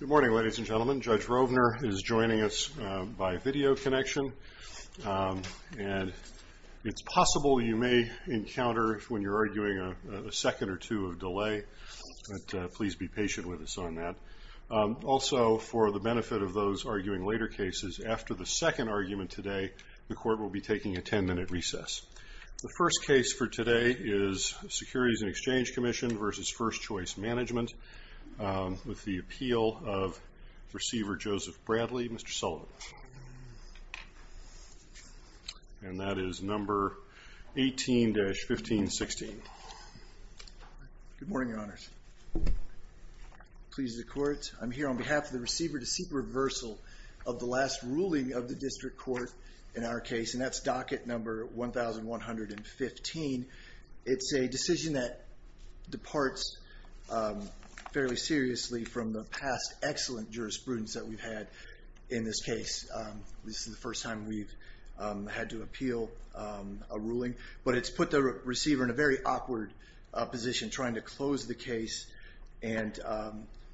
Good morning, ladies and gentlemen. Judge Rovner is joining us by video connection. It's possible you may encounter, when you're arguing, a second or two of delay, but please be patient with us on that. Also, for the benefit of those arguing later cases, after the second argument today, the Court will be taking a ten-minute recess. The first case for today is Securities and Exchange Commission v. First Choice Management with the appeal of Receiver Joseph Bradley, Mr. Sullivan. And that is No. 18-1516. Good morning, Your Honors. Please, the Court, I'm here on behalf of the Receiver to seek reversal of the last ruling of the District Court in our case, and that's Docket No. 1115. It's a decision that departs fairly seriously from the past excellent jurisprudence that we've had in this case. This is the first time we've had to appeal a ruling, but it's put the Receiver in a very awkward position trying to close the case and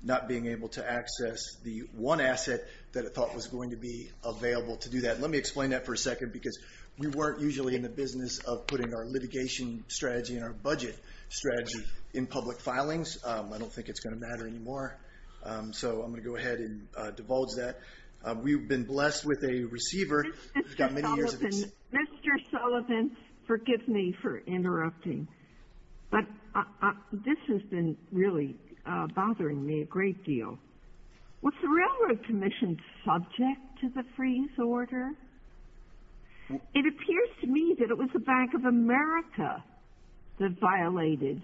not being able to access the one asset that it thought was going to be available to do that. Let me explain that for a second because we weren't usually in the business of putting our litigation strategy and our budget strategy in public filings. I don't think it's going to matter anymore, so I'm going to go ahead and divulge that. We've been blessed with a Receiver who's got many years of experience. Mr. Sullivan, forgive me for interrupting, but this has been really bothering me a great deal. Was the Railroad Commission subject to the freeze order? It appears to me that it was the Bank of America that violated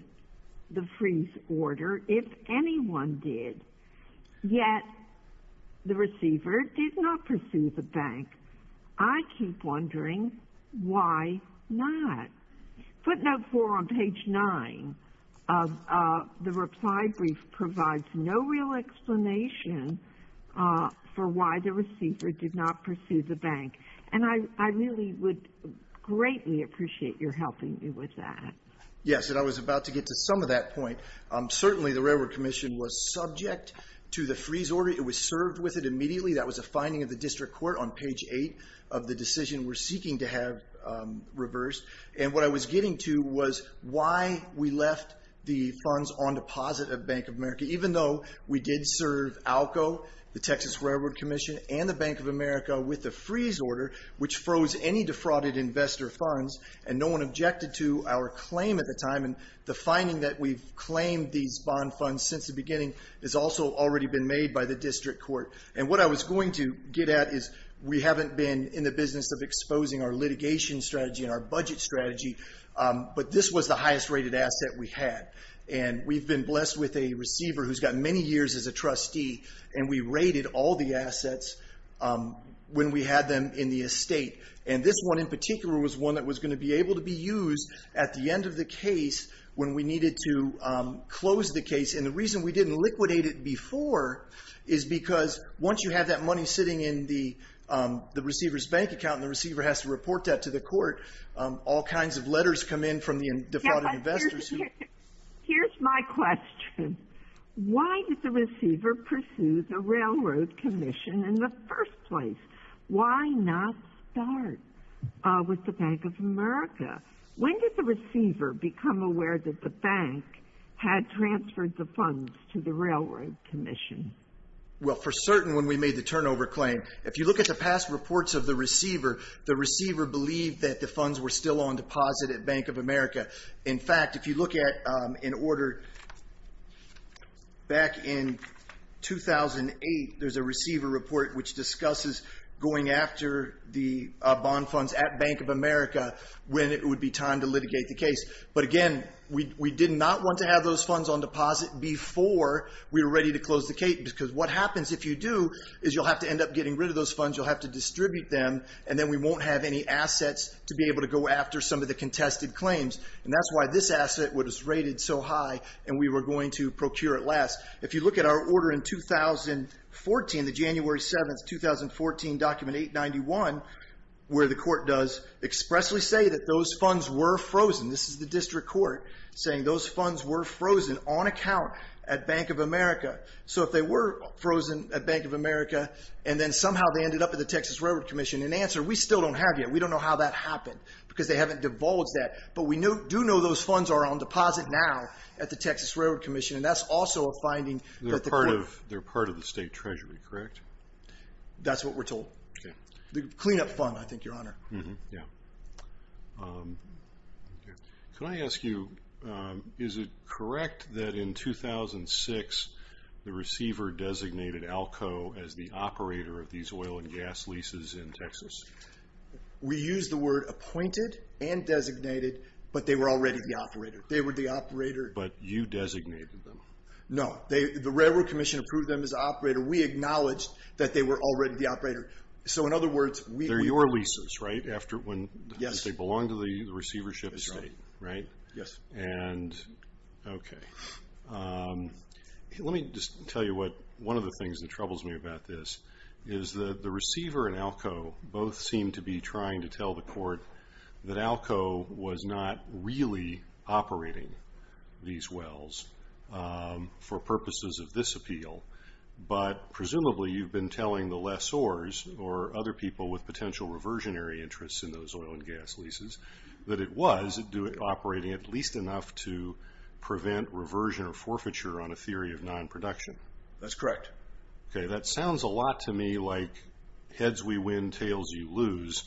the freeze order, if anyone did, yet the Receiver did not pursue the bank. I keep wondering why not. Footnote 4 on page 9 of the reply brief provides no real explanation for why the Receiver did not pursue the bank, and I really would greatly appreciate your helping me with that. Yes, and I was about to get to some of that point. Certainly the Railroad Commission was subject to the freeze order. It was served with it immediately. That was a finding of the District Court on page 8 of the decision we're seeking to have reversed, and what I was getting to was why we left the funds on deposit at Bank of America, even though we did serve ALCO, the Texas Railroad Commission, and the Bank of America with the freeze order, which froze any defrauded investor funds, and no one objected to our claim at the time. The finding that we've claimed these bond funds since the beginning has also already been made by the District Court, and what I was going to get at is we haven't been in the business of exposing our litigation strategy and our budget strategy, but this was the highest rated asset we had, and we've been blessed with a receiver who's got many years as a trustee, and we rated all the assets when we had them in the estate, and this one in particular was one that was going to be able to be used at the end of the case when we needed to close the case, and the reason we didn't liquidate it before is because once you have that money sitting in the receiver's bank account and the receiver has to report that to the court, all kinds of letters come in from the defrauded investors. Here's my question. Why did the receiver pursue the Railroad Commission in the first place? Why not start with the Bank of America? When did the receiver become aware that the bank had transferred the funds to the Railroad Commission? Well, for certain when we made the turnover claim. If you look at the past reports of the receiver, the receiver believed that the funds were still on deposit at Bank of America. In fact, if you look at an order back in 2008, there's a receiver report which discusses going after the bond funds at Bank of America when it would be time to litigate the case. But again, we did not want to have those funds on deposit before we were ready to close the case because what happens if you do is you'll have to end up getting rid of those funds, you'll have to distribute them, and then we won't have any assets to be able to go after some of the contested claims. And that's why this asset was rated so high and we were going to procure it last. If you look at our order in 2014, the January 7, 2014, Document 891, where the court does expressly say that those funds were frozen. This is the district court saying those funds were frozen on account at Bank of America. So if they were frozen at Bank of America and then somehow they ended up at the Texas Railroad Commission in answer, we still don't have yet. We don't know how that happened because they haven't divulged that. But we do know those funds are on deposit now at the Texas Railroad Commission, and that's also a finding that the court. They're part of the state treasury, correct? That's what we're told. The cleanup fund, I think, Your Honor. Can I ask you, is it correct that in 2006 the receiver designated ALCO as the operator of these oil and gas leases in Texas? We used the word appointed and designated, but they were already the operator. They were the operator. But you designated them. No. The Railroad Commission approved them as operator. We acknowledged that they were already the operator. They're your leases, right? Yes. Because they belong to the receivership estate, right? Yes. Okay. Let me just tell you one of the things that troubles me about this is that the receiver and ALCO both seem to be trying to tell the court that ALCO was not really operating these wells for purposes of this appeal. But presumably you've been telling the lessors or other people with potential reversionary interests in those oil and gas leases that it was operating at least enough to prevent reversion or forfeiture on a theory of non-production. That's correct. Okay. That sounds a lot to me like heads we win, tails you lose,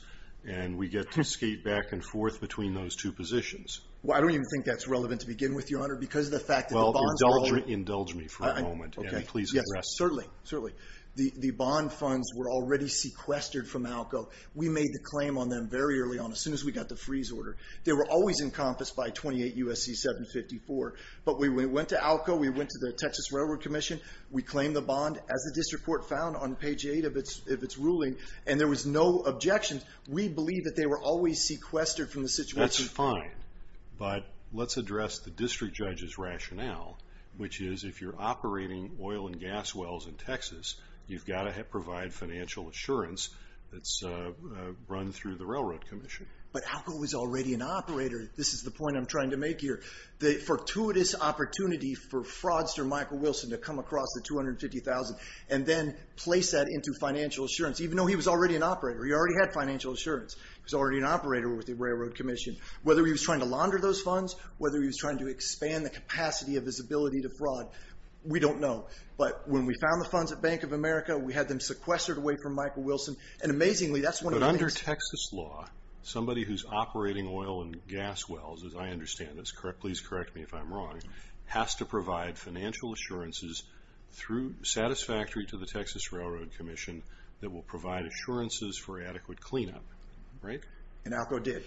and we get to skate back and forth between those two positions. Well, I don't even think that's relevant to begin with, Your Honor, because of the fact that the bonds were all- Indulge me for a moment. Okay. And please address it. Certainly. Certainly. The bond funds were already sequestered from ALCO. We made the claim on them very early on, as soon as we got the freeze order. They were always encompassed by 28 U.S.C. 754. But when we went to ALCO, we went to the Texas Railroad Commission, we claimed the bond as the district court found on page 8 of its ruling, and there was no objection. We believe that they were always sequestered from the situation. That's fine. But let's address the district judge's rationale, which is if you're operating oil and gas wells in Texas, you've got to provide financial assurance that's run through the Railroad Commission. But ALCO was already an operator. This is the point I'm trying to make here. The fortuitous opportunity for fraudster Michael Wilson to come across the $250,000 and then place that into financial assurance, even though he was already an operator. He already had financial assurance. He was already an operator with the Railroad Commission. Whether he was trying to launder those funds, whether he was trying to expand the capacity of his ability to fraud, we don't know. But when we found the funds at Bank of America, we had them sequestered away from Michael Wilson. And amazingly, that's one of the reasons. But under Texas law, somebody who's operating oil and gas wells, as I understand this, please correct me if I'm wrong, has to provide financial assurances satisfactory to the Texas Railroad Commission that will provide assurances for adequate cleanup, right? And ALCO did.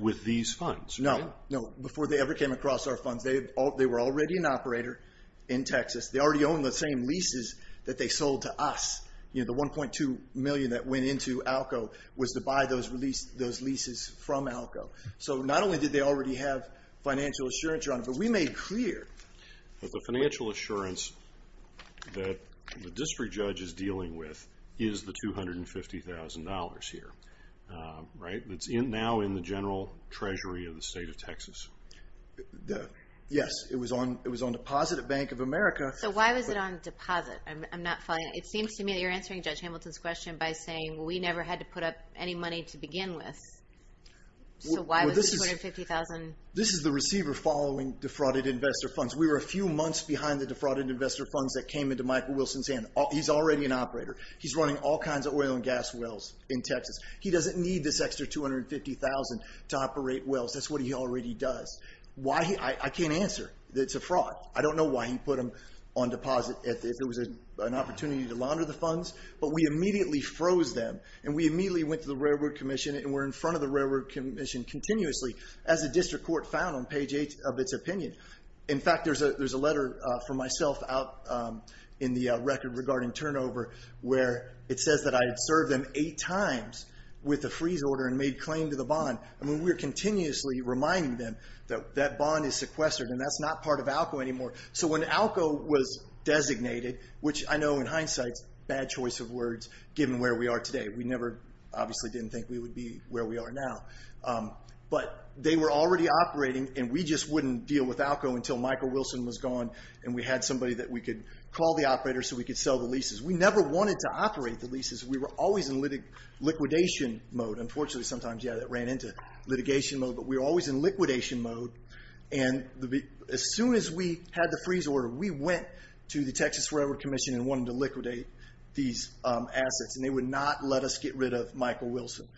With these funds, right? No, before they ever came across our funds. They were already an operator in Texas. They already own the same leases that they sold to us. The $1.2 million that went into ALCO was to buy those leases from ALCO. So not only did they already have financial assurance, Your Honor, but we made clear. The financial assurance that the district judge is dealing with is the $250,000 here, right? It's now in the general treasury of the state of Texas. Yes, it was on deposit at Bank of America. So why was it on deposit? It seems to me that you're answering Judge Hamilton's question by saying, well, we never had to put up any money to begin with. So why was the $250,000? This is the receiver following defrauded investor funds. We were a few months behind the defrauded investor funds that came into Michael Wilson's hand. He's already an operator. He's running all kinds of oil and gas wells in Texas. He doesn't need this extra $250,000 to operate wells. That's what he already does. I can't answer. It's a fraud. I don't know why he put them on deposit if there was an opportunity to launder the funds. But we immediately froze them, and we immediately went to the Railroad Commission, and we're in front of the Railroad Commission continuously, as the district court found on page 8 of its opinion. In fact, there's a letter from myself out in the record regarding turnover where it says that I had served them eight times with a freeze order and made claim to the bond. And we were continuously reminding them that that bond is sequestered, and that's not part of ALCO anymore. So when ALCO was designated, which I know in hindsight is a bad choice of words given where we are today. We never obviously didn't think we would be where we are now. But they were already operating, and we just wouldn't deal with ALCO until Michael Wilson was gone and we had somebody that we could call the operator so we could sell the leases. We never wanted to operate the leases. We were always in liquidation mode. Unfortunately, sometimes, yeah, that ran into litigation mode. But we were always in liquidation mode, and as soon as we had the freeze order, we went to the Texas Railroad Commission and wanted to liquidate these assets, and they would not let us get rid of Michael Wilson.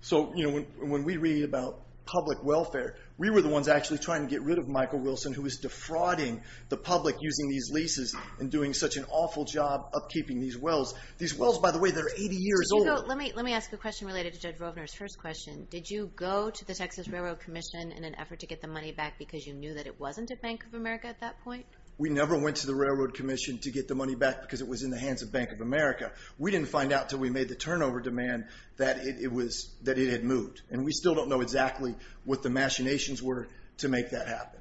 So when we read about public welfare, we were the ones actually trying to get rid of Michael Wilson who was defrauding the public using these leases and doing such an awful job upkeeping these wells. These wells, by the way, they're 80 years old. Let me ask a question related to Judge Rovner's first question. Did you go to the Texas Railroad Commission in an effort to get the money back because you knew that it wasn't at Bank of America at that point? We never went to the Railroad Commission to get the money back because it was in the hands of Bank of America. We didn't find out until we made the turnover demand that it had moved, and we still don't know exactly what the machinations were to make that happen.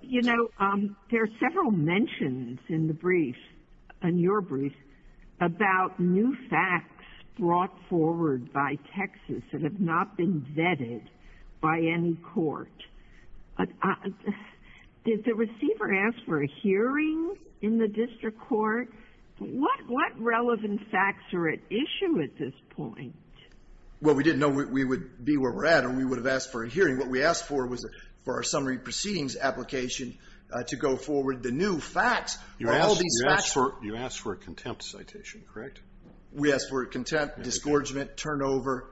You know, there are several mentions in the brief, in your brief, about new facts brought forward by Texas that have not been vetted by any court. Did the receiver ask for a hearing in the district court? What relevant facts are at issue at this point? Well, we didn't know we would be where we're at or we would have asked for a hearing. What we asked for was for our summary proceedings application to go forward. The new facts are all these facts. You asked for a contempt citation, correct? We asked for a contempt, disgorgement, turnover.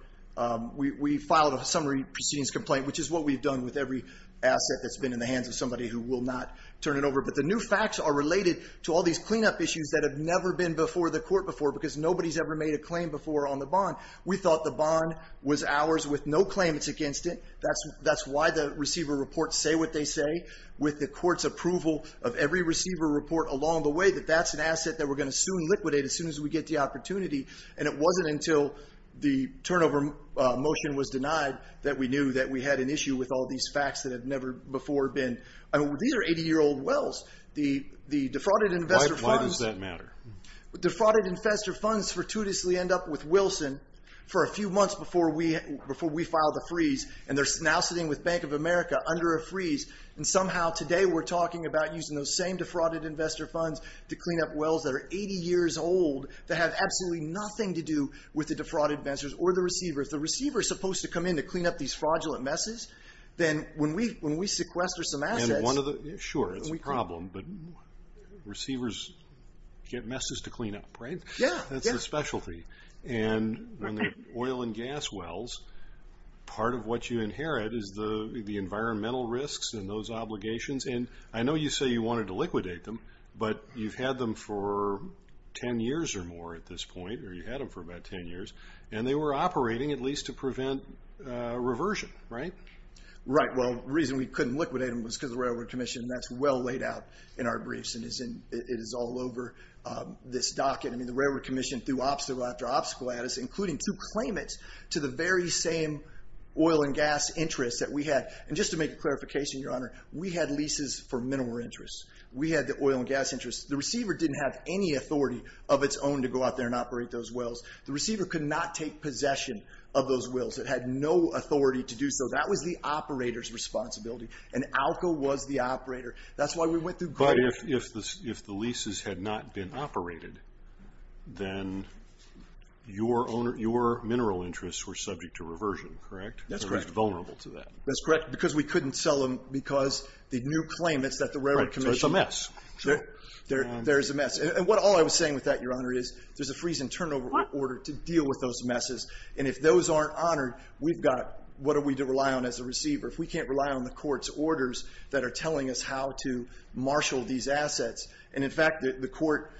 We filed a summary proceedings complaint, which is what we've done with every asset that's been in the hands of somebody who will not turn it over. But the new facts are related to all these cleanup issues that have never been before the court before because nobody's ever made a claim before on the bond. We thought the bond was ours with no claimants against it. That's why the receiver reports say what they say. With the court's approval of every receiver report along the way, that that's an asset that we're going to sue and liquidate as soon as we get the opportunity. And it wasn't until the turnover motion was denied that we knew that we had an issue with all these facts that had never before been. These are 80-year-old wells. The defrauded investor funds... Why does that matter? Defrauded investor funds fortuitously end up with Wilson for a few months before we file the freeze. And they're now sitting with Bank of America under a freeze. And somehow today we're talking about using those same defrauded investor funds to clean up wells that are 80 years old, that have absolutely nothing to do with the defrauded investors or the receiver. If the receiver is supposed to come in to clean up these fraudulent messes, then when we sequester some assets... Sure, it's a problem. But receivers get messes to clean up, right? Yeah. That's their specialty. And oil and gas wells, part of what you inherit is the environmental risks and those obligations. And I know you say you wanted to liquidate them. But you've had them for 10 years or more at this point, or you've had them for about 10 years. And they were operating, at least, to prevent reversion, right? Right. Well, the reason we couldn't liquidate them was because of the Railroad Commission. And that's well laid out in our briefs. And it is all over this docket. I mean, the Railroad Commission threw obstacle after obstacle at us, including to claim it to the very same oil and gas interests that we had. And just to make a clarification, Your Honor, we had leases for mineral interests. We had the oil and gas interests. The receiver didn't have any authority of its own to go out there and operate those wells. The receiver could not take possession of those wells. It had no authority to do so. That was the operator's responsibility. And ALCA was the operator. That's why we went through government. But if the leases had not been operated, then your mineral interests were subject to reversion, correct? That's correct. Or at least vulnerable to that. That's correct. Because we couldn't sell them because the new claim, it's at the Railroad Commission. So it's a mess. There is a mess. And all I was saying with that, Your Honor, is there's a freeze and turnover order to deal with those messes. And if those aren't honored, we've got what are we to rely on as a receiver? If we can't rely on the court's orders that are telling us how to marshal these assets. And, in fact, the court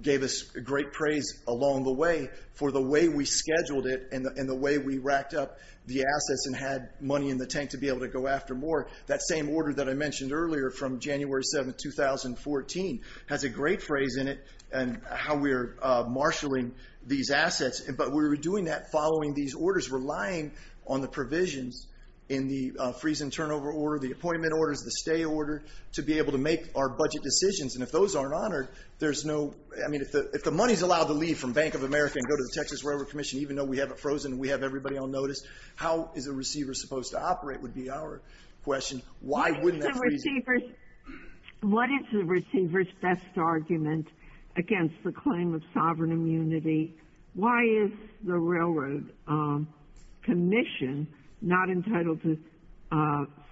gave us great praise along the way for the way we scheduled it and the way we racked up the assets and had money in the tank to be able to go after more. That same order that I mentioned earlier from January 7, 2014, has a great phrase in it and how we are marshaling these assets. But we were doing that following these orders, relying on the provisions in the freeze and turnover order, the appointment orders, the stay order, to be able to make our budget decisions. And if those aren't honored, there's no ‑‑ I mean, if the money is allowed to leave from Bank of America and go to the Texas Railroad Commission, even though we have it frozen and we have everybody on notice, how is a receiver supposed to operate would be our question. Why wouldn't that freeze it? What is the receiver's best argument against the claim of sovereign immunity? Why is the Railroad Commission not entitled to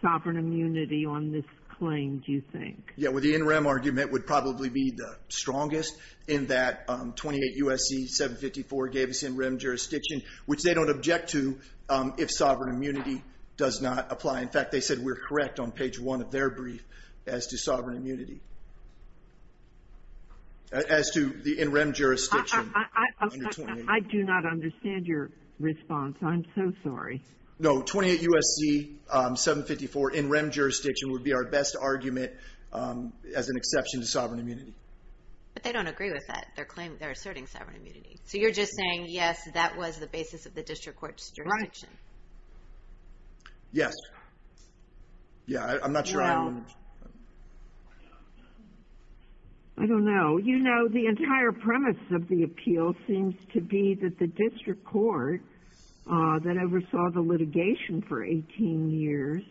sovereign immunity on this claim, do you think? Yeah, well, the NREM argument would probably be the strongest in that 28 U.S.C. 754 gave us NREM jurisdiction, which they don't object to if sovereign immunity does not apply. In fact, they said we're correct on page one of their brief as to sovereign immunity. As to the NREM jurisdiction. I do not understand your response. I'm so sorry. No, 28 U.S.C. 754 NREM jurisdiction would be our best argument as an exception to sovereign immunity. But they don't agree with that. They're asserting sovereign immunity. So you're just saying, yes, that was the basis of the district court's jurisdiction. Right. Yes. Yeah, I'm not sure. No. I don't know. You know, the entire premise of the appeal seems to be that the district court that oversaw the litigation for 18 years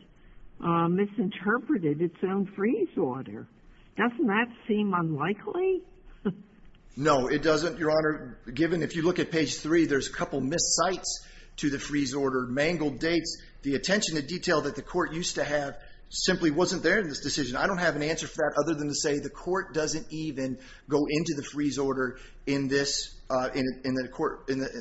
misinterpreted its own freeze order. Doesn't that seem unlikely? No, it doesn't, Your Honor. Given if you look at page three, there's a couple of missed sites to the freeze order, mangled dates. The attention to detail that the court used to have simply wasn't there in this decision. I don't have an answer for that other than to say the court doesn't even go into the freeze order in the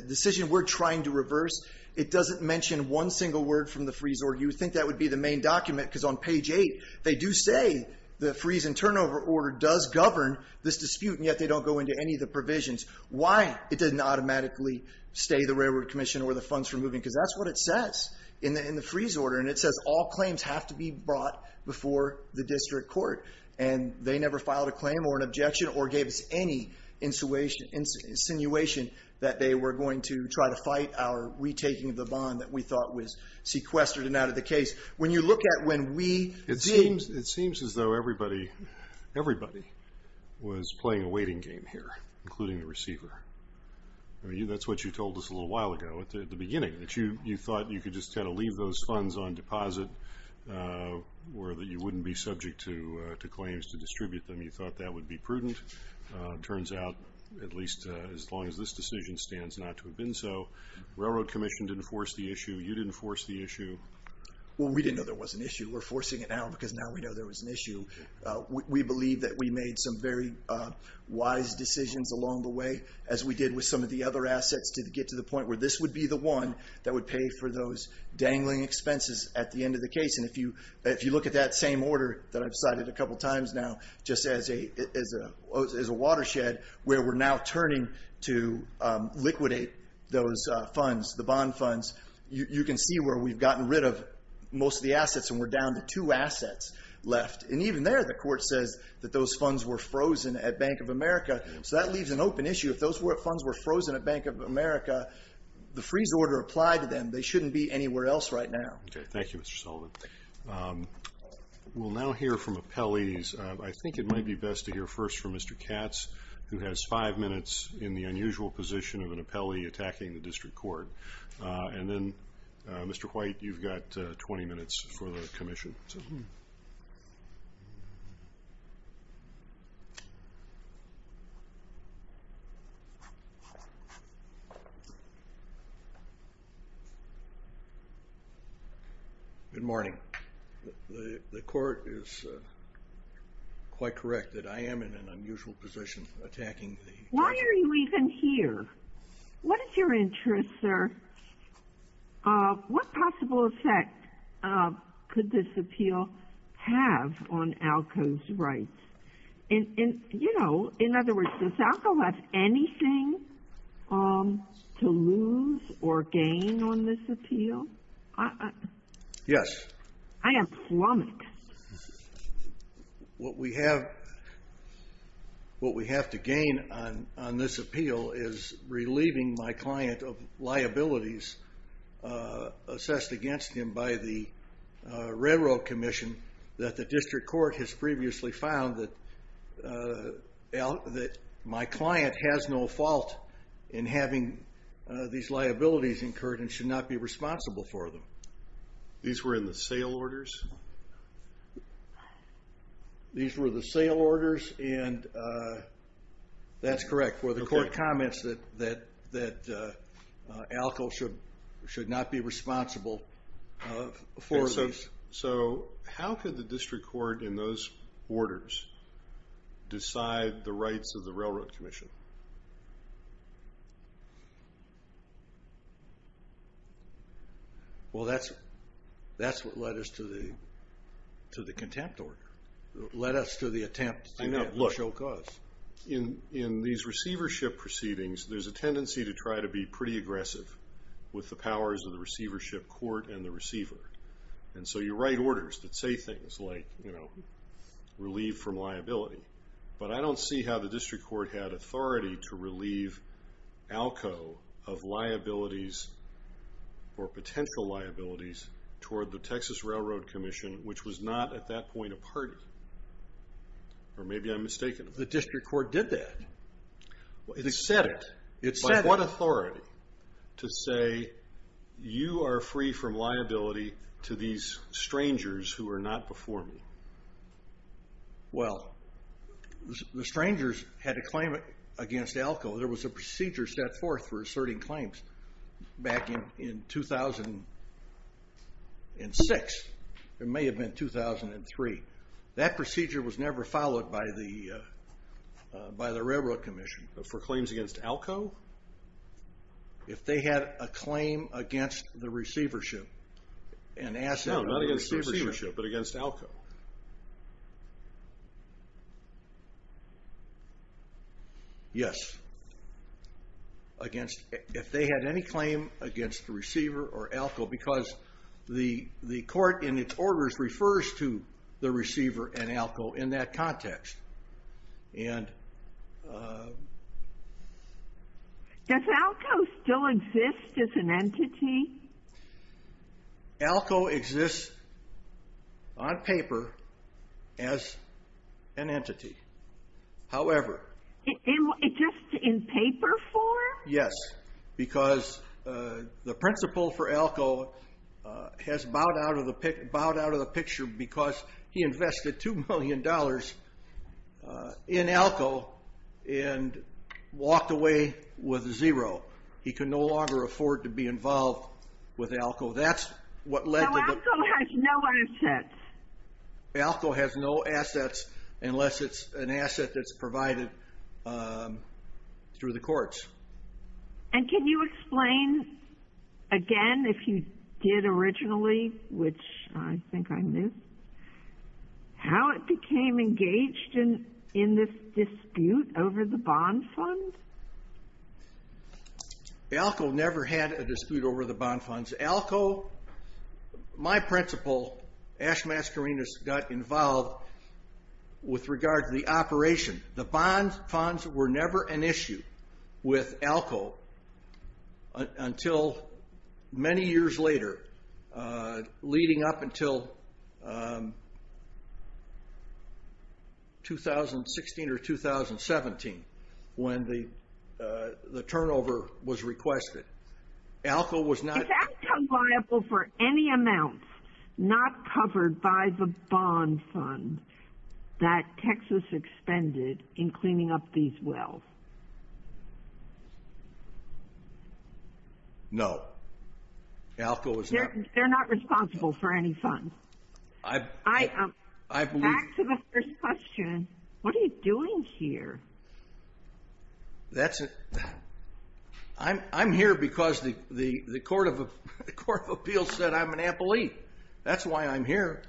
decision we're trying to reverse. It doesn't mention one single word from the freeze order. You would think that would be the main document because on page eight, they do say the freeze and turnover order does govern this dispute, and yet they don't go into any of the provisions. Why it didn't automatically stay the railroad commission or the funds for moving, because that's what it says in the freeze order, and it says all claims have to be brought before the district court, and they never filed a claim or an objection or gave us any insinuation that they were going to try to fight our retaking of the bond that we thought was sequestered and out of the case. When you look at when we did. It seems as though everybody was playing a waiting game here, including the receiver. I mean, that's what you told us a little while ago at the beginning, that you thought you could just kind of leave those funds on deposit or that you wouldn't be subject to claims to distribute them. You thought that would be prudent. It turns out at least as long as this decision stands not to have been so. You didn't force the issue. Well, we didn't know there was an issue. We're forcing it now because now we know there was an issue. We believe that we made some very wise decisions along the way, as we did with some of the other assets to get to the point where this would be the one that would pay for those dangling expenses at the end of the case. And if you look at that same order that I've cited a couple times now, just as a watershed where we're now turning to liquidate those funds, the bond funds, you can see where we've gotten rid of most of the assets and we're down to two assets left. And even there the court says that those funds were frozen at Bank of America. So that leaves an open issue. If those funds were frozen at Bank of America, the freeze order applied to them. They shouldn't be anywhere else right now. Okay. Thank you, Mr. Sullivan. We'll now hear from appellees. I think it might be best to hear first from Mr. Katz, who has five minutes in the unusual position of an appellee attacking the district court. And then, Mr. White, you've got 20 minutes for the commission. Good morning. The court is quite correct that I am in an unusual position attacking the district. Why are you even here? What is your interest, sir? What possible effect could this appeal have on ALCO's rights? In other words, does ALCO have anything to lose or gain on this appeal? Yes. I am flummoxed. What we have to gain on this appeal is relieving my client of liabilities assessed against him by the railroad commission that the district court has previously found that my client has no fault in having these liabilities incurred and should not be responsible for them. These were in the sale orders? These were the sale orders, and that's correct. The court comments that ALCO should not be responsible for this. So how could the district court in those orders decide the rights of the railroad commission? Well, that's what led us to the contempt order, led us to the attempt to show cause. In these receivership proceedings, there's a tendency to try to be pretty aggressive with the powers of the receivership court and the receiver. And so you write orders that say things like, you know, relieve from liability. But I don't see how the district court had authority to relieve ALCO of liabilities or potential liabilities toward the Texas Railroad Commission, which was not at that point a party. Or maybe I'm mistaken. The district court did that. It said it. It said it. To say you are free from liability to these strangers who are not before me. Well, the strangers had a claim against ALCO. There was a procedure set forth for asserting claims back in 2006. It may have been 2003. That procedure was never followed by the railroad commission. For claims against ALCO? If they had a claim against the receivership. No, not against the receivership, but against ALCO. Yes. If they had any claim against the receiver or ALCO, because the court in its orders refers to the receiver and ALCO in that context. And. Does ALCO still exist as an entity? ALCO exists on paper as an entity. However. Just in paper form? Yes, because the principal for ALCO has bowed out of the picture because he invested $2 million in ALCO and walked away with zero. He can no longer afford to be involved with ALCO. That's what led to the. So ALCO has no assets. ALCO has no assets unless it's an asset that's provided through the courts. And can you explain again, if you did originally, which I think I missed, how it became engaged in this dispute over the bond fund? ALCO never had a dispute over the bond funds. ALCO, my principal, Ash Mascarinis, got involved with regard to the operation. The bond funds were never an issue with ALCO until many years later, leading up until 2016 or 2017 when the turnover was requested. ALCO was not. Is ALCO liable for any amounts not covered by the bond fund that Texas expended in cleaning up these wells? No. ALCO was not. They're not responsible for any funds. Back to the first question. What are you doing here? I'm here because the Court of Appeals said I'm an employee. That's why I'm here.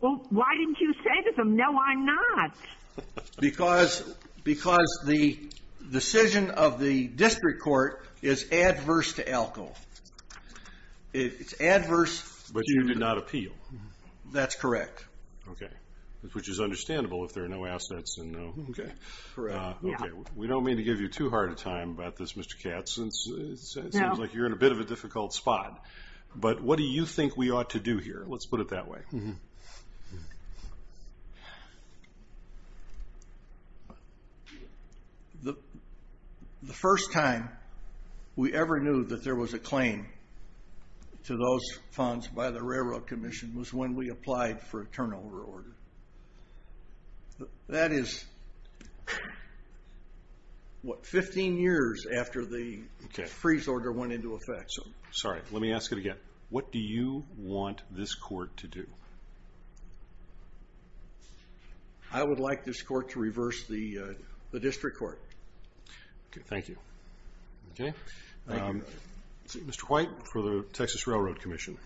Well, why didn't you say to them, no, I'm not? Because the decision of the district court is adverse to ALCO. It's adverse. But you did not appeal. That's correct. Okay. Which is understandable if there are no assets. Okay. We don't mean to give you too hard a time about this, Mr. Katz, since it seems like you're in a bit of a difficult spot. But what do you think we ought to do here? Let's put it that way. The first time we ever knew that there was a claim to those funds by the Railroad Commission was when we applied for a turnover order. That is, what, 15 years after the freeze order went into effect. Sorry. Let me ask it again. What do you want this court to do? I would like this court to reverse the district court. Okay. Thank you. Okay. Mr. White for the Texas Railroad Commission.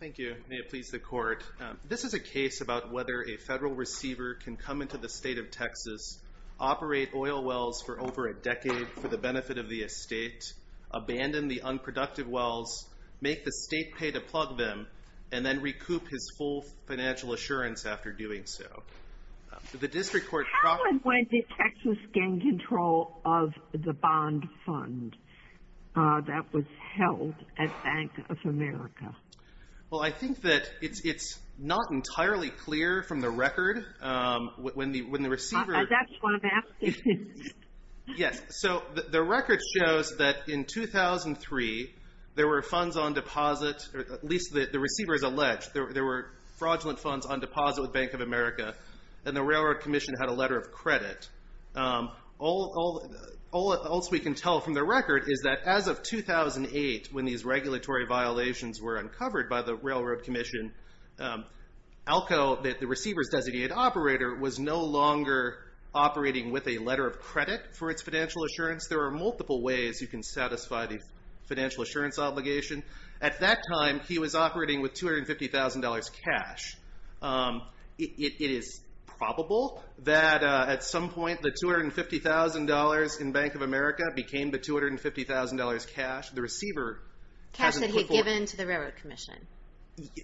Thank you. May it please the court. This is a case about whether a federal receiver can come into the state of Texas, operate oil wells for over a decade for the benefit of the estate, abandon the unproductive wells, make the state pay to plug them, and then recoup his full financial assurance after doing so. How and when did Texas gain control of the bond fund that was held at Bank of America? Well, I think that it's not entirely clear from the record. That's what I'm asking. Yes. So the record shows that in 2003 there were funds on deposit, or at least the receiver has alleged, there were fraudulent funds on deposit with Bank of America, and the Railroad Commission had a letter of credit. All else we can tell from the record is that as of 2008, when these regulatory violations were uncovered by the Railroad Commission, ALCO, the receiver's designated operator, was no longer operating with a letter of credit for its financial assurance. There are multiple ways you can satisfy the financial assurance obligation. At that time he was operating with $250,000 cash. It is probable that at some point the $250,000 in Bank of America became the $250,000 cash. Cash that he had given to the Railroad Commission.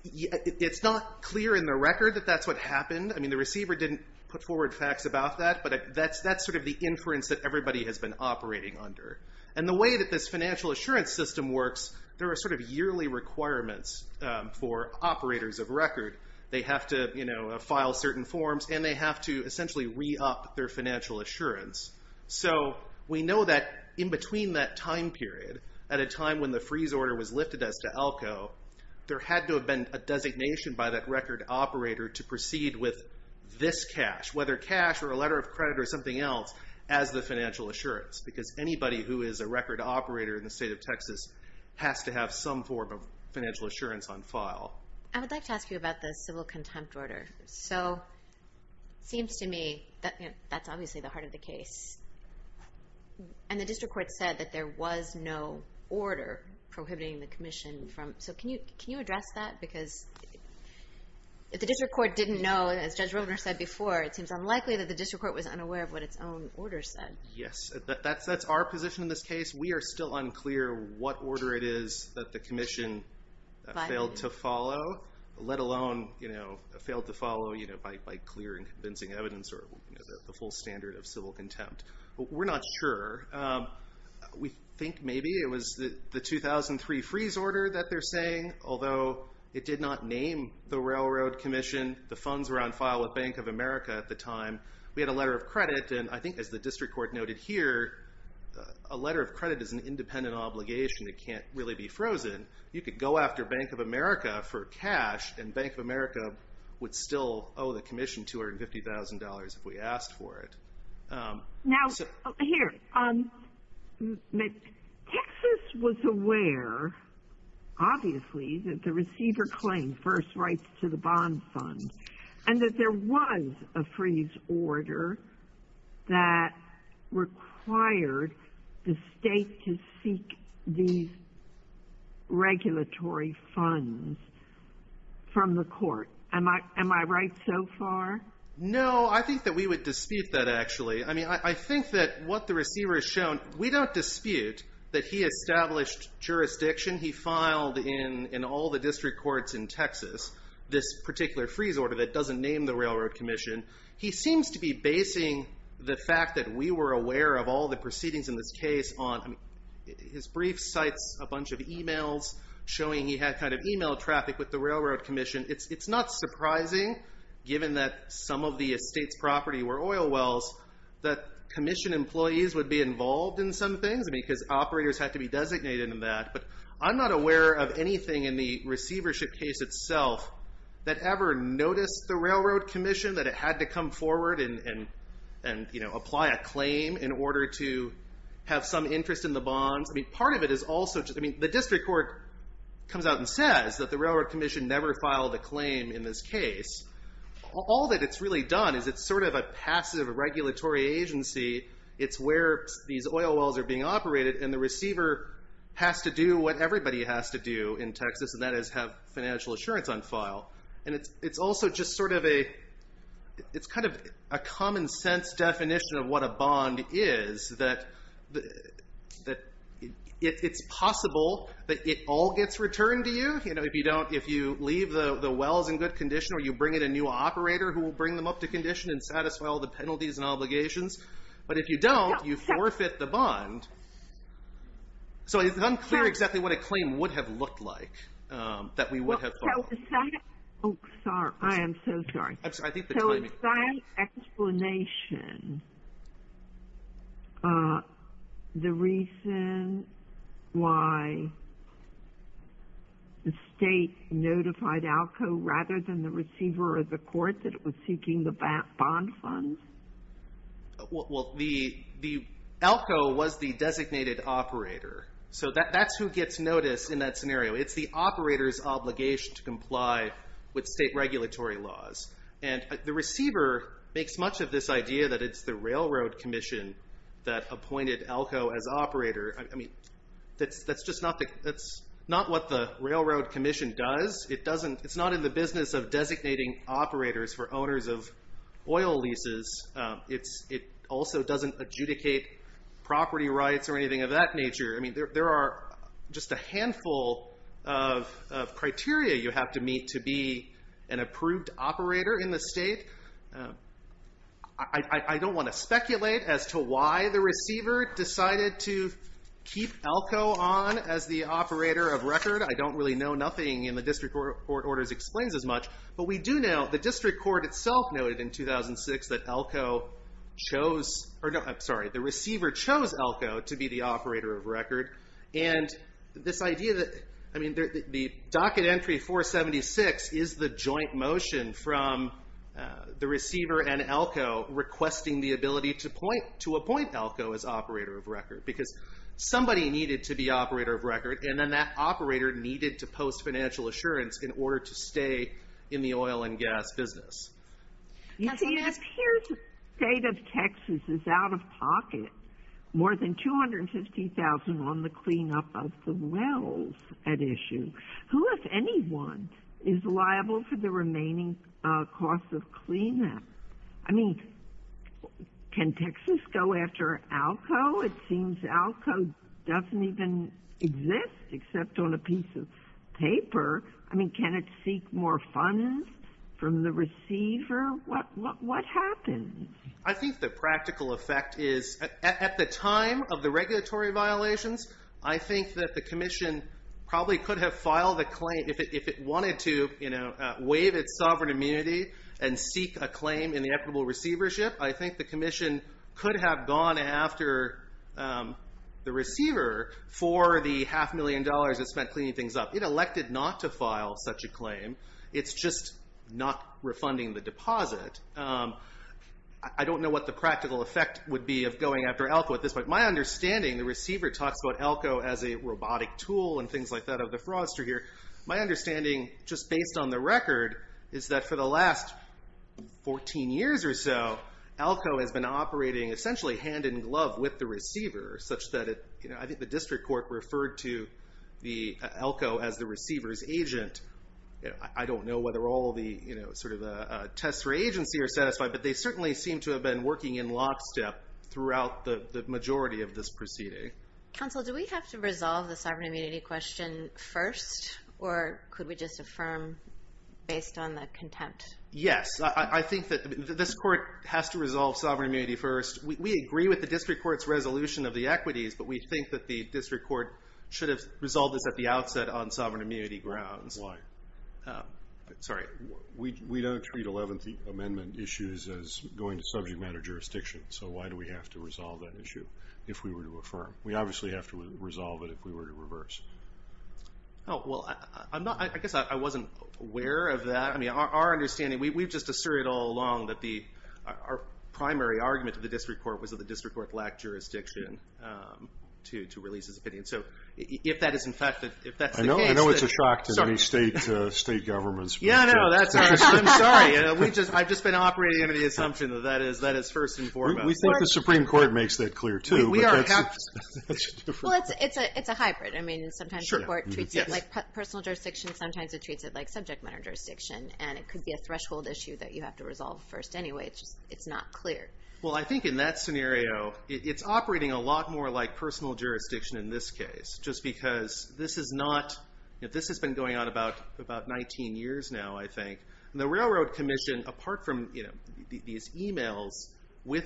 It's not clear in the record that that's what happened. I mean, the receiver didn't put forward facts about that, but that's sort of the inference that everybody has been operating under. And the way that this financial assurance system works, there are sort of yearly requirements for operators of record. They have to file certain forms, and they have to essentially re-up their financial assurance. So we know that in between that time period, at a time when the freeze order was lifted as to ALCO, there had to have been a designation by that record operator to proceed with this cash, whether cash or a letter of credit or something else, as the financial assurance. Because anybody who is a record operator in the state of Texas has to have some form of financial assurance on file. I would like to ask you about the civil contempt order. So it seems to me that that's obviously the heart of the case. And the district court said that there was no order prohibiting the commission from... So can you address that? Because if the district court didn't know, as Judge Roebner said before, it seems unlikely that the district court was unaware of what its own order said. Yes. That's our position in this case. We are still unclear what order it is that the commission failed to follow, let alone failed to follow by clear and convincing evidence or the full standard of civil contempt. We're not sure. We think maybe it was the 2003 freeze order that they're saying, although it did not name the railroad commission. The funds were on file with Bank of America at the time. We had a letter of credit, and I think as the district court noted here, a letter of credit is an independent obligation. It can't really be frozen. You could go after Bank of America for cash, and Bank of America would still owe the commission $250,000 if we asked for it. Now, here, Texas was aware, obviously, that the receiver claimed first rights to the bond fund and that there was a freeze order that required the state to seek these regulatory funds from the court. Am I right so far? No, I think that we would dispute that actually. I mean, I think that what the receiver has shown, we don't dispute that he established jurisdiction. He filed in all the district courts in Texas this particular freeze order that doesn't name the railroad commission. He seems to be basing the fact that we were aware of all the proceedings in this case on his brief cites a bunch of e-mails showing he had kind of e-mail traffic with the railroad commission. It's not surprising, given that some of the estate's property were oil wells, that commission employees would be involved in some things because operators had to be designated in that. But I'm not aware of anything in the receivership case itself that ever noticed the railroad commission, that it had to come forward and apply a claim in order to have some interest in the bonds. I mean, part of it is also just, I mean, the district court comes out and says that the railroad commission never filed a claim in this case. All that it's really done is it's sort of a passive regulatory agency. It's where these oil wells are being operated, and the receiver has to do what everybody has to do in Texas, and that is have financial assurance on file. And it's also just sort of a common sense definition of what a bond is, that it's possible that it all gets returned to you. You know, if you leave the wells in good condition or you bring in a new operator who will bring them up to condition and satisfy all the penalties and obligations, but if you don't, you forfeit the bond. So it's unclear exactly what a claim would have looked like that we would have thought of. Oh, sorry. I am so sorry. So in that explanation, the reason why the state notified ALCO rather than the receiver or the court that it was seeking the bond funds? Well, the ALCO was the designated operator. So that's who gets noticed in that scenario. It's the operator's obligation to comply with state regulatory laws. And the receiver makes much of this idea that it's the railroad commission that appointed ALCO as operator. I mean, that's just not what the railroad commission does. It's not in the business of designating operators for owners of oil leases. It also doesn't adjudicate property rights or anything of that nature. I mean, there are just a handful of criteria you have to meet to be an approved operator in the state. I don't want to speculate as to why the receiver decided to keep ALCO on as the operator of record. I don't really know. Nothing in the district court orders explains as much. But we do know the district court itself noted in 2006 that ALCO chose or no, I'm sorry, the receiver chose ALCO to be the operator of record. And this idea that, I mean, the docket entry 476 is the joint motion from the receiver and ALCO requesting the ability to appoint ALCO as operator of record because somebody needed to be operator of record. And then that operator needed to post financial assurance in order to stay in the oil and gas business. It appears the state of Texas is out of pocket. More than $250,000 on the cleanup of the wells at issue. Who, if anyone, is liable for the remaining cost of cleanup? I mean, can Texas go after ALCO? It seems ALCO doesn't even exist except on a piece of paper. I mean, can it seek more funds from the receiver? What happens? I think the practical effect is at the time of the regulatory violations, I think that the commission probably could have filed a claim if it wanted to waive its sovereign immunity and seek a claim in the equitable receivership. I think the commission could have gone after the receiver for the half million dollars it spent cleaning things up. It elected not to file such a claim. It's just not refunding the deposit. I don't know what the practical effect would be of going after ALCO at this point. My understanding, the receiver talks about ALCO as a robotic tool and things like that of the fraudster here. My understanding, just based on the record, is that for the last 14 years or so, ALCO has been operating essentially hand-in-glove with the receiver, such that I think the district court referred to ALCO as the receiver's agent. I don't know whether all the tests for agency are satisfied, but they certainly seem to have been working in lockstep throughout the majority of this proceeding. Counsel, do we have to resolve the sovereign immunity question first, or could we just affirm based on the contempt? Yes. I think that this court has to resolve sovereign immunity first. We agree with the district court's resolution of the equities, but we think that the district court should have resolved this at the outset on sovereign immunity grounds. Why? Sorry. We don't treat Eleventh Amendment issues as going to subject matter jurisdiction, so why do we have to resolve that issue if we were to affirm? We obviously have to resolve it if we were to reverse. Well, I guess I wasn't aware of that. Our understanding, we've just asserted all along that our primary argument to the district court was that the district court lacked jurisdiction to release its opinion. So if that is in fact the case. I know it's a shock to any state governments. Yeah, I know. I'm sorry. I've just been operating under the assumption that that is first and foremost. We thought the Supreme Court makes that clear, too. Well, it's a hybrid. I mean, sometimes the court treats it like personal jurisdiction, sometimes it treats it like subject matter jurisdiction, and it could be a threshold issue that you have to resolve first anyway. It's just not clear. Well, I think in that scenario, it's operating a lot more like personal jurisdiction in this case, just because this has been going on about 19 years now, I think. The Railroad Commission, apart from these e-mails with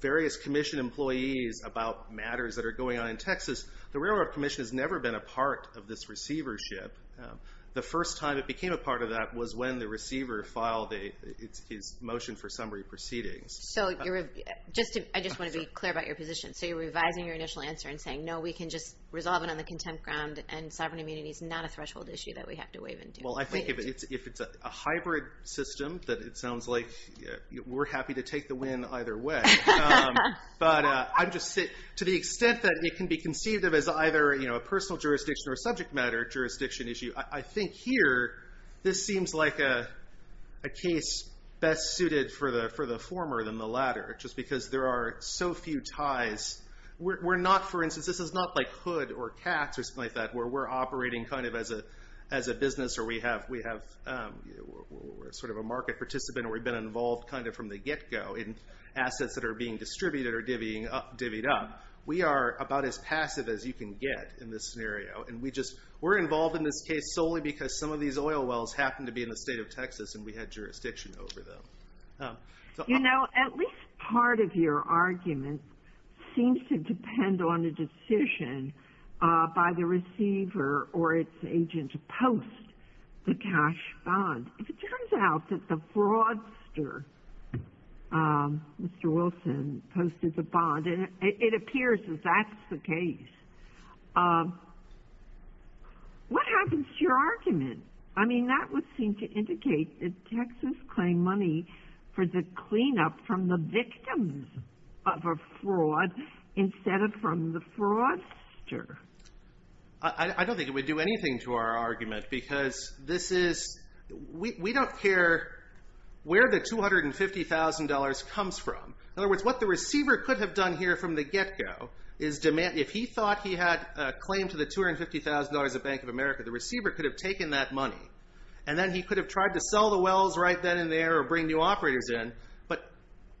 various commission employees about matters that are going on in Texas, the Railroad Commission has never been a part of this receivership. The first time it became a part of that was when the receiver filed his motion for summary proceedings. So I just want to be clear about your position. So you're revising your initial answer and saying, no, we can just resolve it on the contempt ground and sovereign immunity is not a threshold issue that we have to waive. Well, I think if it's a hybrid system, that it sounds like we're happy to take the win either way. But to the extent that it can be conceived of as either a personal jurisdiction or a subject matter jurisdiction issue, I think here this seems like a case best suited for the former than the latter, just because there are so few ties. We're not, for instance, this is not like Hood or Katz or something like that, where we're operating kind of as a business or we're sort of a market participant or we've been involved kind of from the get-go in assets that are being distributed or divvied up. We are about as passive as you can get in this scenario. And we're involved in this case solely because some of these oil wells happen to be in the state of Texas and we had jurisdiction over them. You know, at least part of your argument seems to depend on the decision by the receiver or its agent to post the cash bond. If it turns out that the fraudster, Mr. Wilson, posted the bond, and it appears that that's the case, what happens to your argument? I mean, that would seem to indicate that Texas claimed money for the cleanup from the victims of a fraud instead of from the fraudster. I don't think it would do anything to our argument because this is, we don't care where the $250,000 comes from. In other words, what the receiver could have done here from the get-go is if he thought he had a claim to the $250,000 of Bank of America, the receiver could have taken that money. And then he could have tried to sell the wells right then and there or bring new operators in, but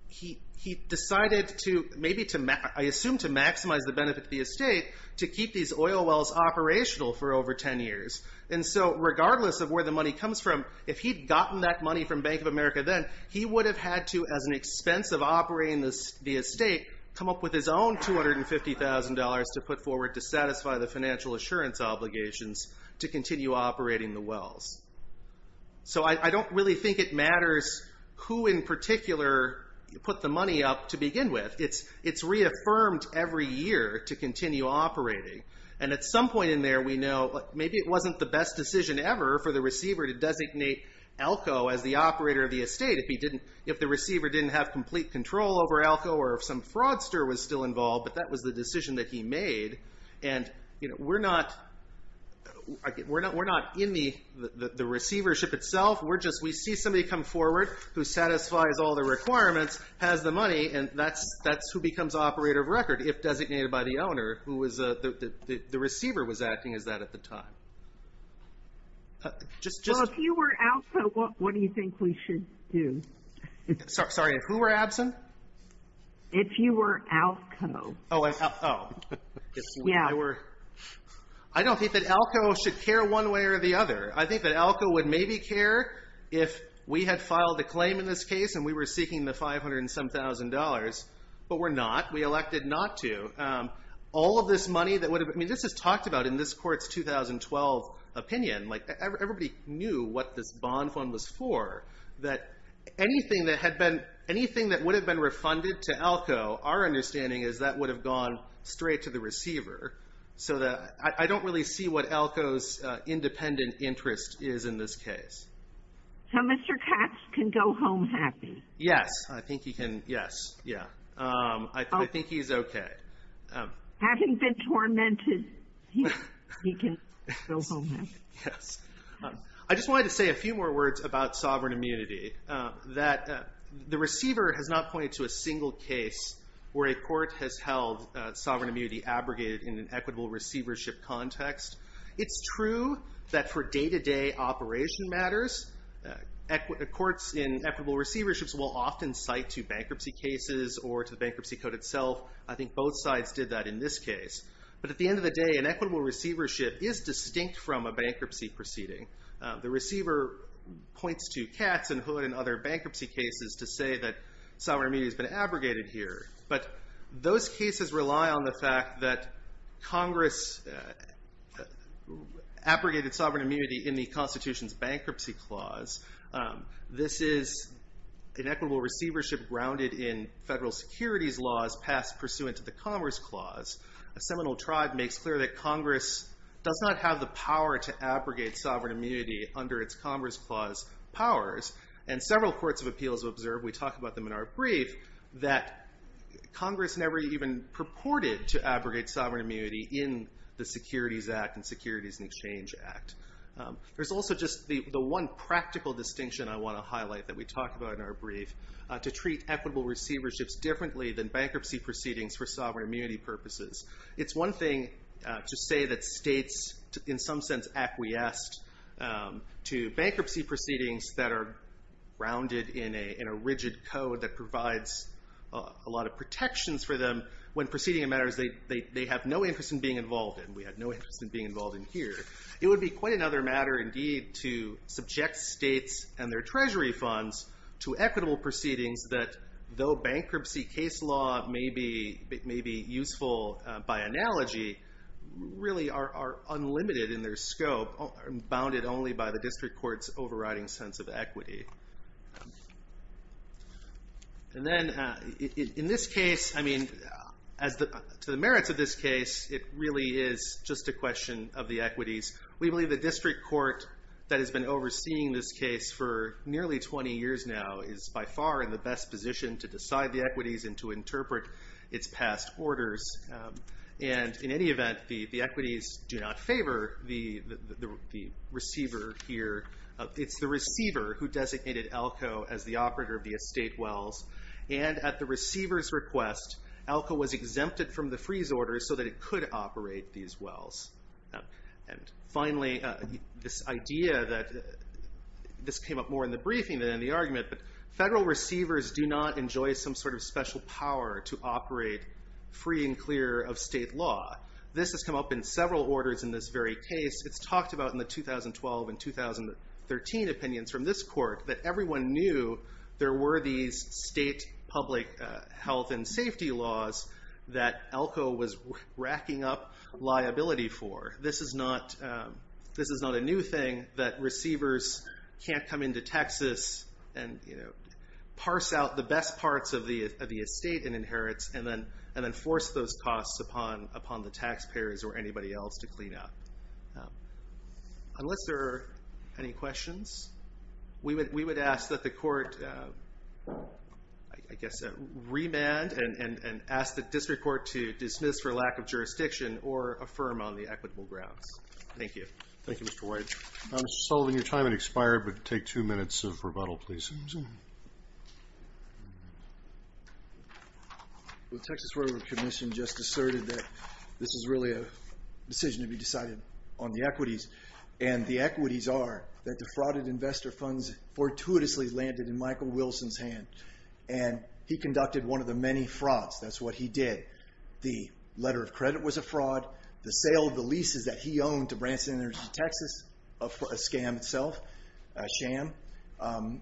he decided to maybe, I assume, to maximize the benefit to the estate to keep these oil wells operational for over 10 years. And so regardless of where the money comes from, if he'd gotten that money from Bank of America then, he would have had to, as an expense of operating the estate, come up with his own $250,000 to put forward to satisfy the financial assurance obligations to continue operating the wells. So I don't really think it matters who in particular put the money up to begin with. It's reaffirmed every year to continue operating. And at some point in there we know maybe it wasn't the best decision ever for the receiver to designate Alco as the operator of the estate if the receiver didn't have complete control over Alco or if some fraudster was still involved, but that was the decision that he made. And we're not in the receivership itself. We see somebody come forward who satisfies all the requirements, has the money, and that's who becomes operator of record if designated by the owner. The receiver was acting as that at the time. Well, if you were Alco, what do you think we should do? Sorry, if who were absent? If you were Alco. I don't think that Alco should care one way or the other. I think that Alco would maybe care if we had filed a claim in this case and we were seeking the $507,000, but we're not. We elected not to. All of this money that would have been – this is talked about in this Court's 2012 opinion. Everybody knew what this bond fund was for, that anything that would have been refunded to Alco, our understanding is that would have gone straight to the receiver. So I don't really see what Alco's independent interest is in this case. So Mr. Katz can go home happy? Yes, I think he can. Yes, yeah. I think he's okay. Having been tormented, he can go home happy. Yes. I just wanted to say a few more words about sovereign immunity. The receiver has not pointed to a single case where a court has held sovereign immunity abrogated in an equitable receivership context. It's true that for day-to-day operation matters, courts in equitable receiverships will often cite to bankruptcy cases or to the bankruptcy code itself. I think both sides did that in this case. But at the end of the day, an equitable receivership is distinct from a bankruptcy proceeding. The receiver points to Katz and Hood and other bankruptcy cases to say that sovereign immunity has been abrogated here. But those cases rely on the fact that Congress abrogated sovereign immunity in the Constitution's Bankruptcy Clause. This is an equitable receivership grounded in federal securities laws passed pursuant to the Commerce Clause. A seminal tribe makes clear that Congress does not have the power to abrogate sovereign immunity under its Commerce Clause powers. And several courts of appeals observe, we talk about them in our brief, that Congress never even purported to abrogate sovereign immunity in the Securities Act and Securities and Exchange Act. There's also just the one practical distinction I want to highlight that we talk about in our brief, to treat equitable receiverships differently than bankruptcy proceedings for sovereign immunity purposes. It's one thing to say that states in some sense acquiesced to bankruptcy proceedings that are grounded in a rigid code that provides a lot of protections for them when proceeding matters they have no interest in being involved in. We have no interest in being involved in here. It would be quite another matter indeed to subject states and their treasury funds to equitable proceedings that though bankruptcy case law may be useful by analogy, really are unlimited in their scope, bounded only by the district court's overriding sense of equity. And then in this case, I mean, to the merits of this case, it really is just a question of the equities. We believe the district court that has been overseeing this case for nearly 20 years now is by far in the best position to decide the equities and to interpret its past orders. And in any event, the equities do not favor the receiver here. It's the receiver who designated ALCO as the operator of the estate wells. And at the receiver's request, ALCO was exempted from the freeze order so that it could operate these wells. And finally, this idea that this came up more in the briefing than in the argument, but federal receivers do not enjoy some sort of special power to operate free and clear of state law. This has come up in several orders in this very case. It's talked about in the 2012 and 2013 opinions from this court that everyone knew there were these state public health and safety laws that ALCO was racking up liability for. This is not a new thing that receivers can't come into Texas and parse out the best parts of the estate and inherits and then force those costs upon the taxpayers or anybody else to clean up. Unless there are any questions, we would ask that the court, I guess, remand and ask the district court to dismiss for lack of jurisdiction or affirm on the equitable grounds. Thank you. Thank you, Mr. White. Mr. Sullivan, your time has expired, but take two minutes of rebuttal, please. The Texas Railroad Commission just asserted that this is really a decision to be decided on the equities. And the equities are that the frauded investor funds fortuitously landed in Michael Wilson's hand. And he conducted one of the many frauds. That's what he did. The letter of credit was a fraud. The sale of the leases that he owned to Branson Energy Texas, a scam itself, a sham,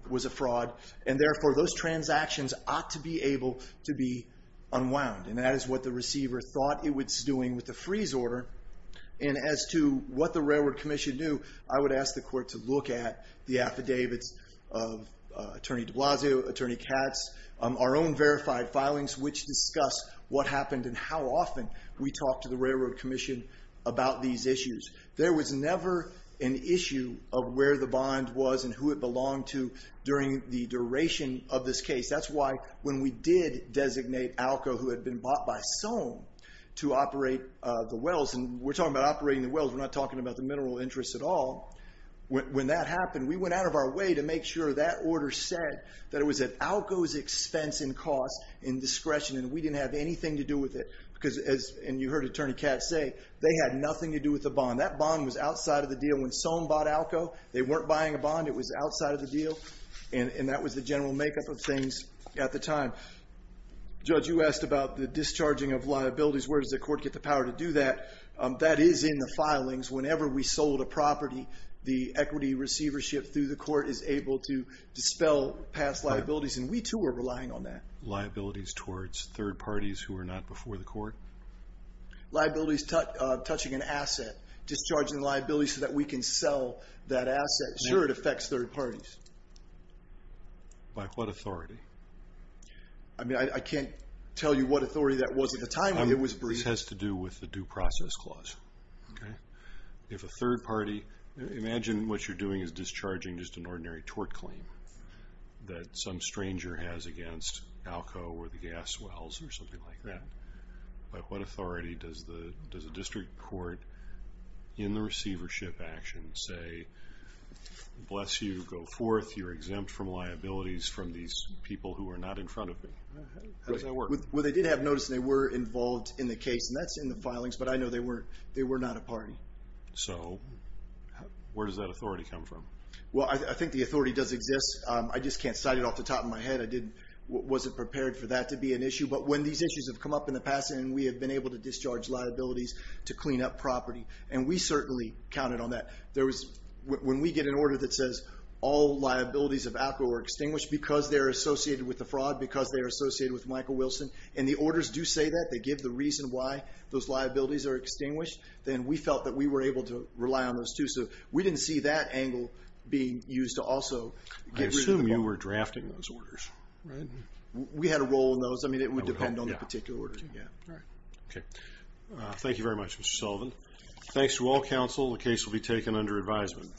was a fraud. And therefore, those transactions ought to be able to be unwound. And that is what the receiver thought it was doing with the freeze order. And as to what the Railroad Commission knew, I would ask the court to look at the affidavits of Attorney de Blasio, Attorney Katz, our own verified filings which discuss what happened and how often we talk to the Railroad Commission about these issues. There was never an issue of where the bond was and who it belonged to during the duration of this case. That's why when we did designate ALCO, who had been bought by Soane to operate the wells, and we're talking about operating the wells. We're not talking about the mineral interests at all. When that happened, we went out of our way to make sure that order said that it was at ALCO's expense and cost and discretion, and we didn't have anything to do with it. And you heard Attorney Katz say, they had nothing to do with the bond. That bond was outside of the deal. When Soane bought ALCO, they weren't buying a bond. It was outside of the deal. And that was the general makeup of things at the time. Judge, you asked about the discharging of liabilities. Where does the court get the power to do that? That is in the filings. Whenever we sold a property, the equity receivership through the court is able to dispel past liabilities. And we, too, are relying on that. Liabilities towards third parties who are not before the court? Liabilities touching an asset, discharging liabilities so that we can sell that asset. Sure, it affects third parties. By what authority? I mean, I can't tell you what authority that was at the time when it was breached. This has to do with the due process clause. If a third party, imagine what you're doing is discharging just an ordinary tort claim, that some stranger has against ALCO or the gas wells or something like that. By what authority does a district court in the receivership action say, bless you, go forth, you're exempt from liabilities from these people who are not in front of me? How does that work? Well, they did have notice, and they were involved in the case. And that's in the filings. But I know they were not a party. So where does that authority come from? Well, I think the authority does exist. I just can't cite it off the top of my head. I wasn't prepared for that to be an issue. But when these issues have come up in the past, and we have been able to discharge liabilities to clean up property, and we certainly counted on that. When we get an order that says all liabilities of ALCO are extinguished because they're associated with the fraud, because they're associated with Michael Wilson, and the orders do say that, they give the reason why those liabilities are extinguished, then we felt that we were able to rely on those too. So we didn't see that angle being used to also get rid of the problem. I assume you were drafting those orders. Right. We had a role in those. I mean, it would depend on the particular order. All right. Okay. Thank you very much, Mr. Sullivan. Thanks to all counsel. The case will be taken under advisement.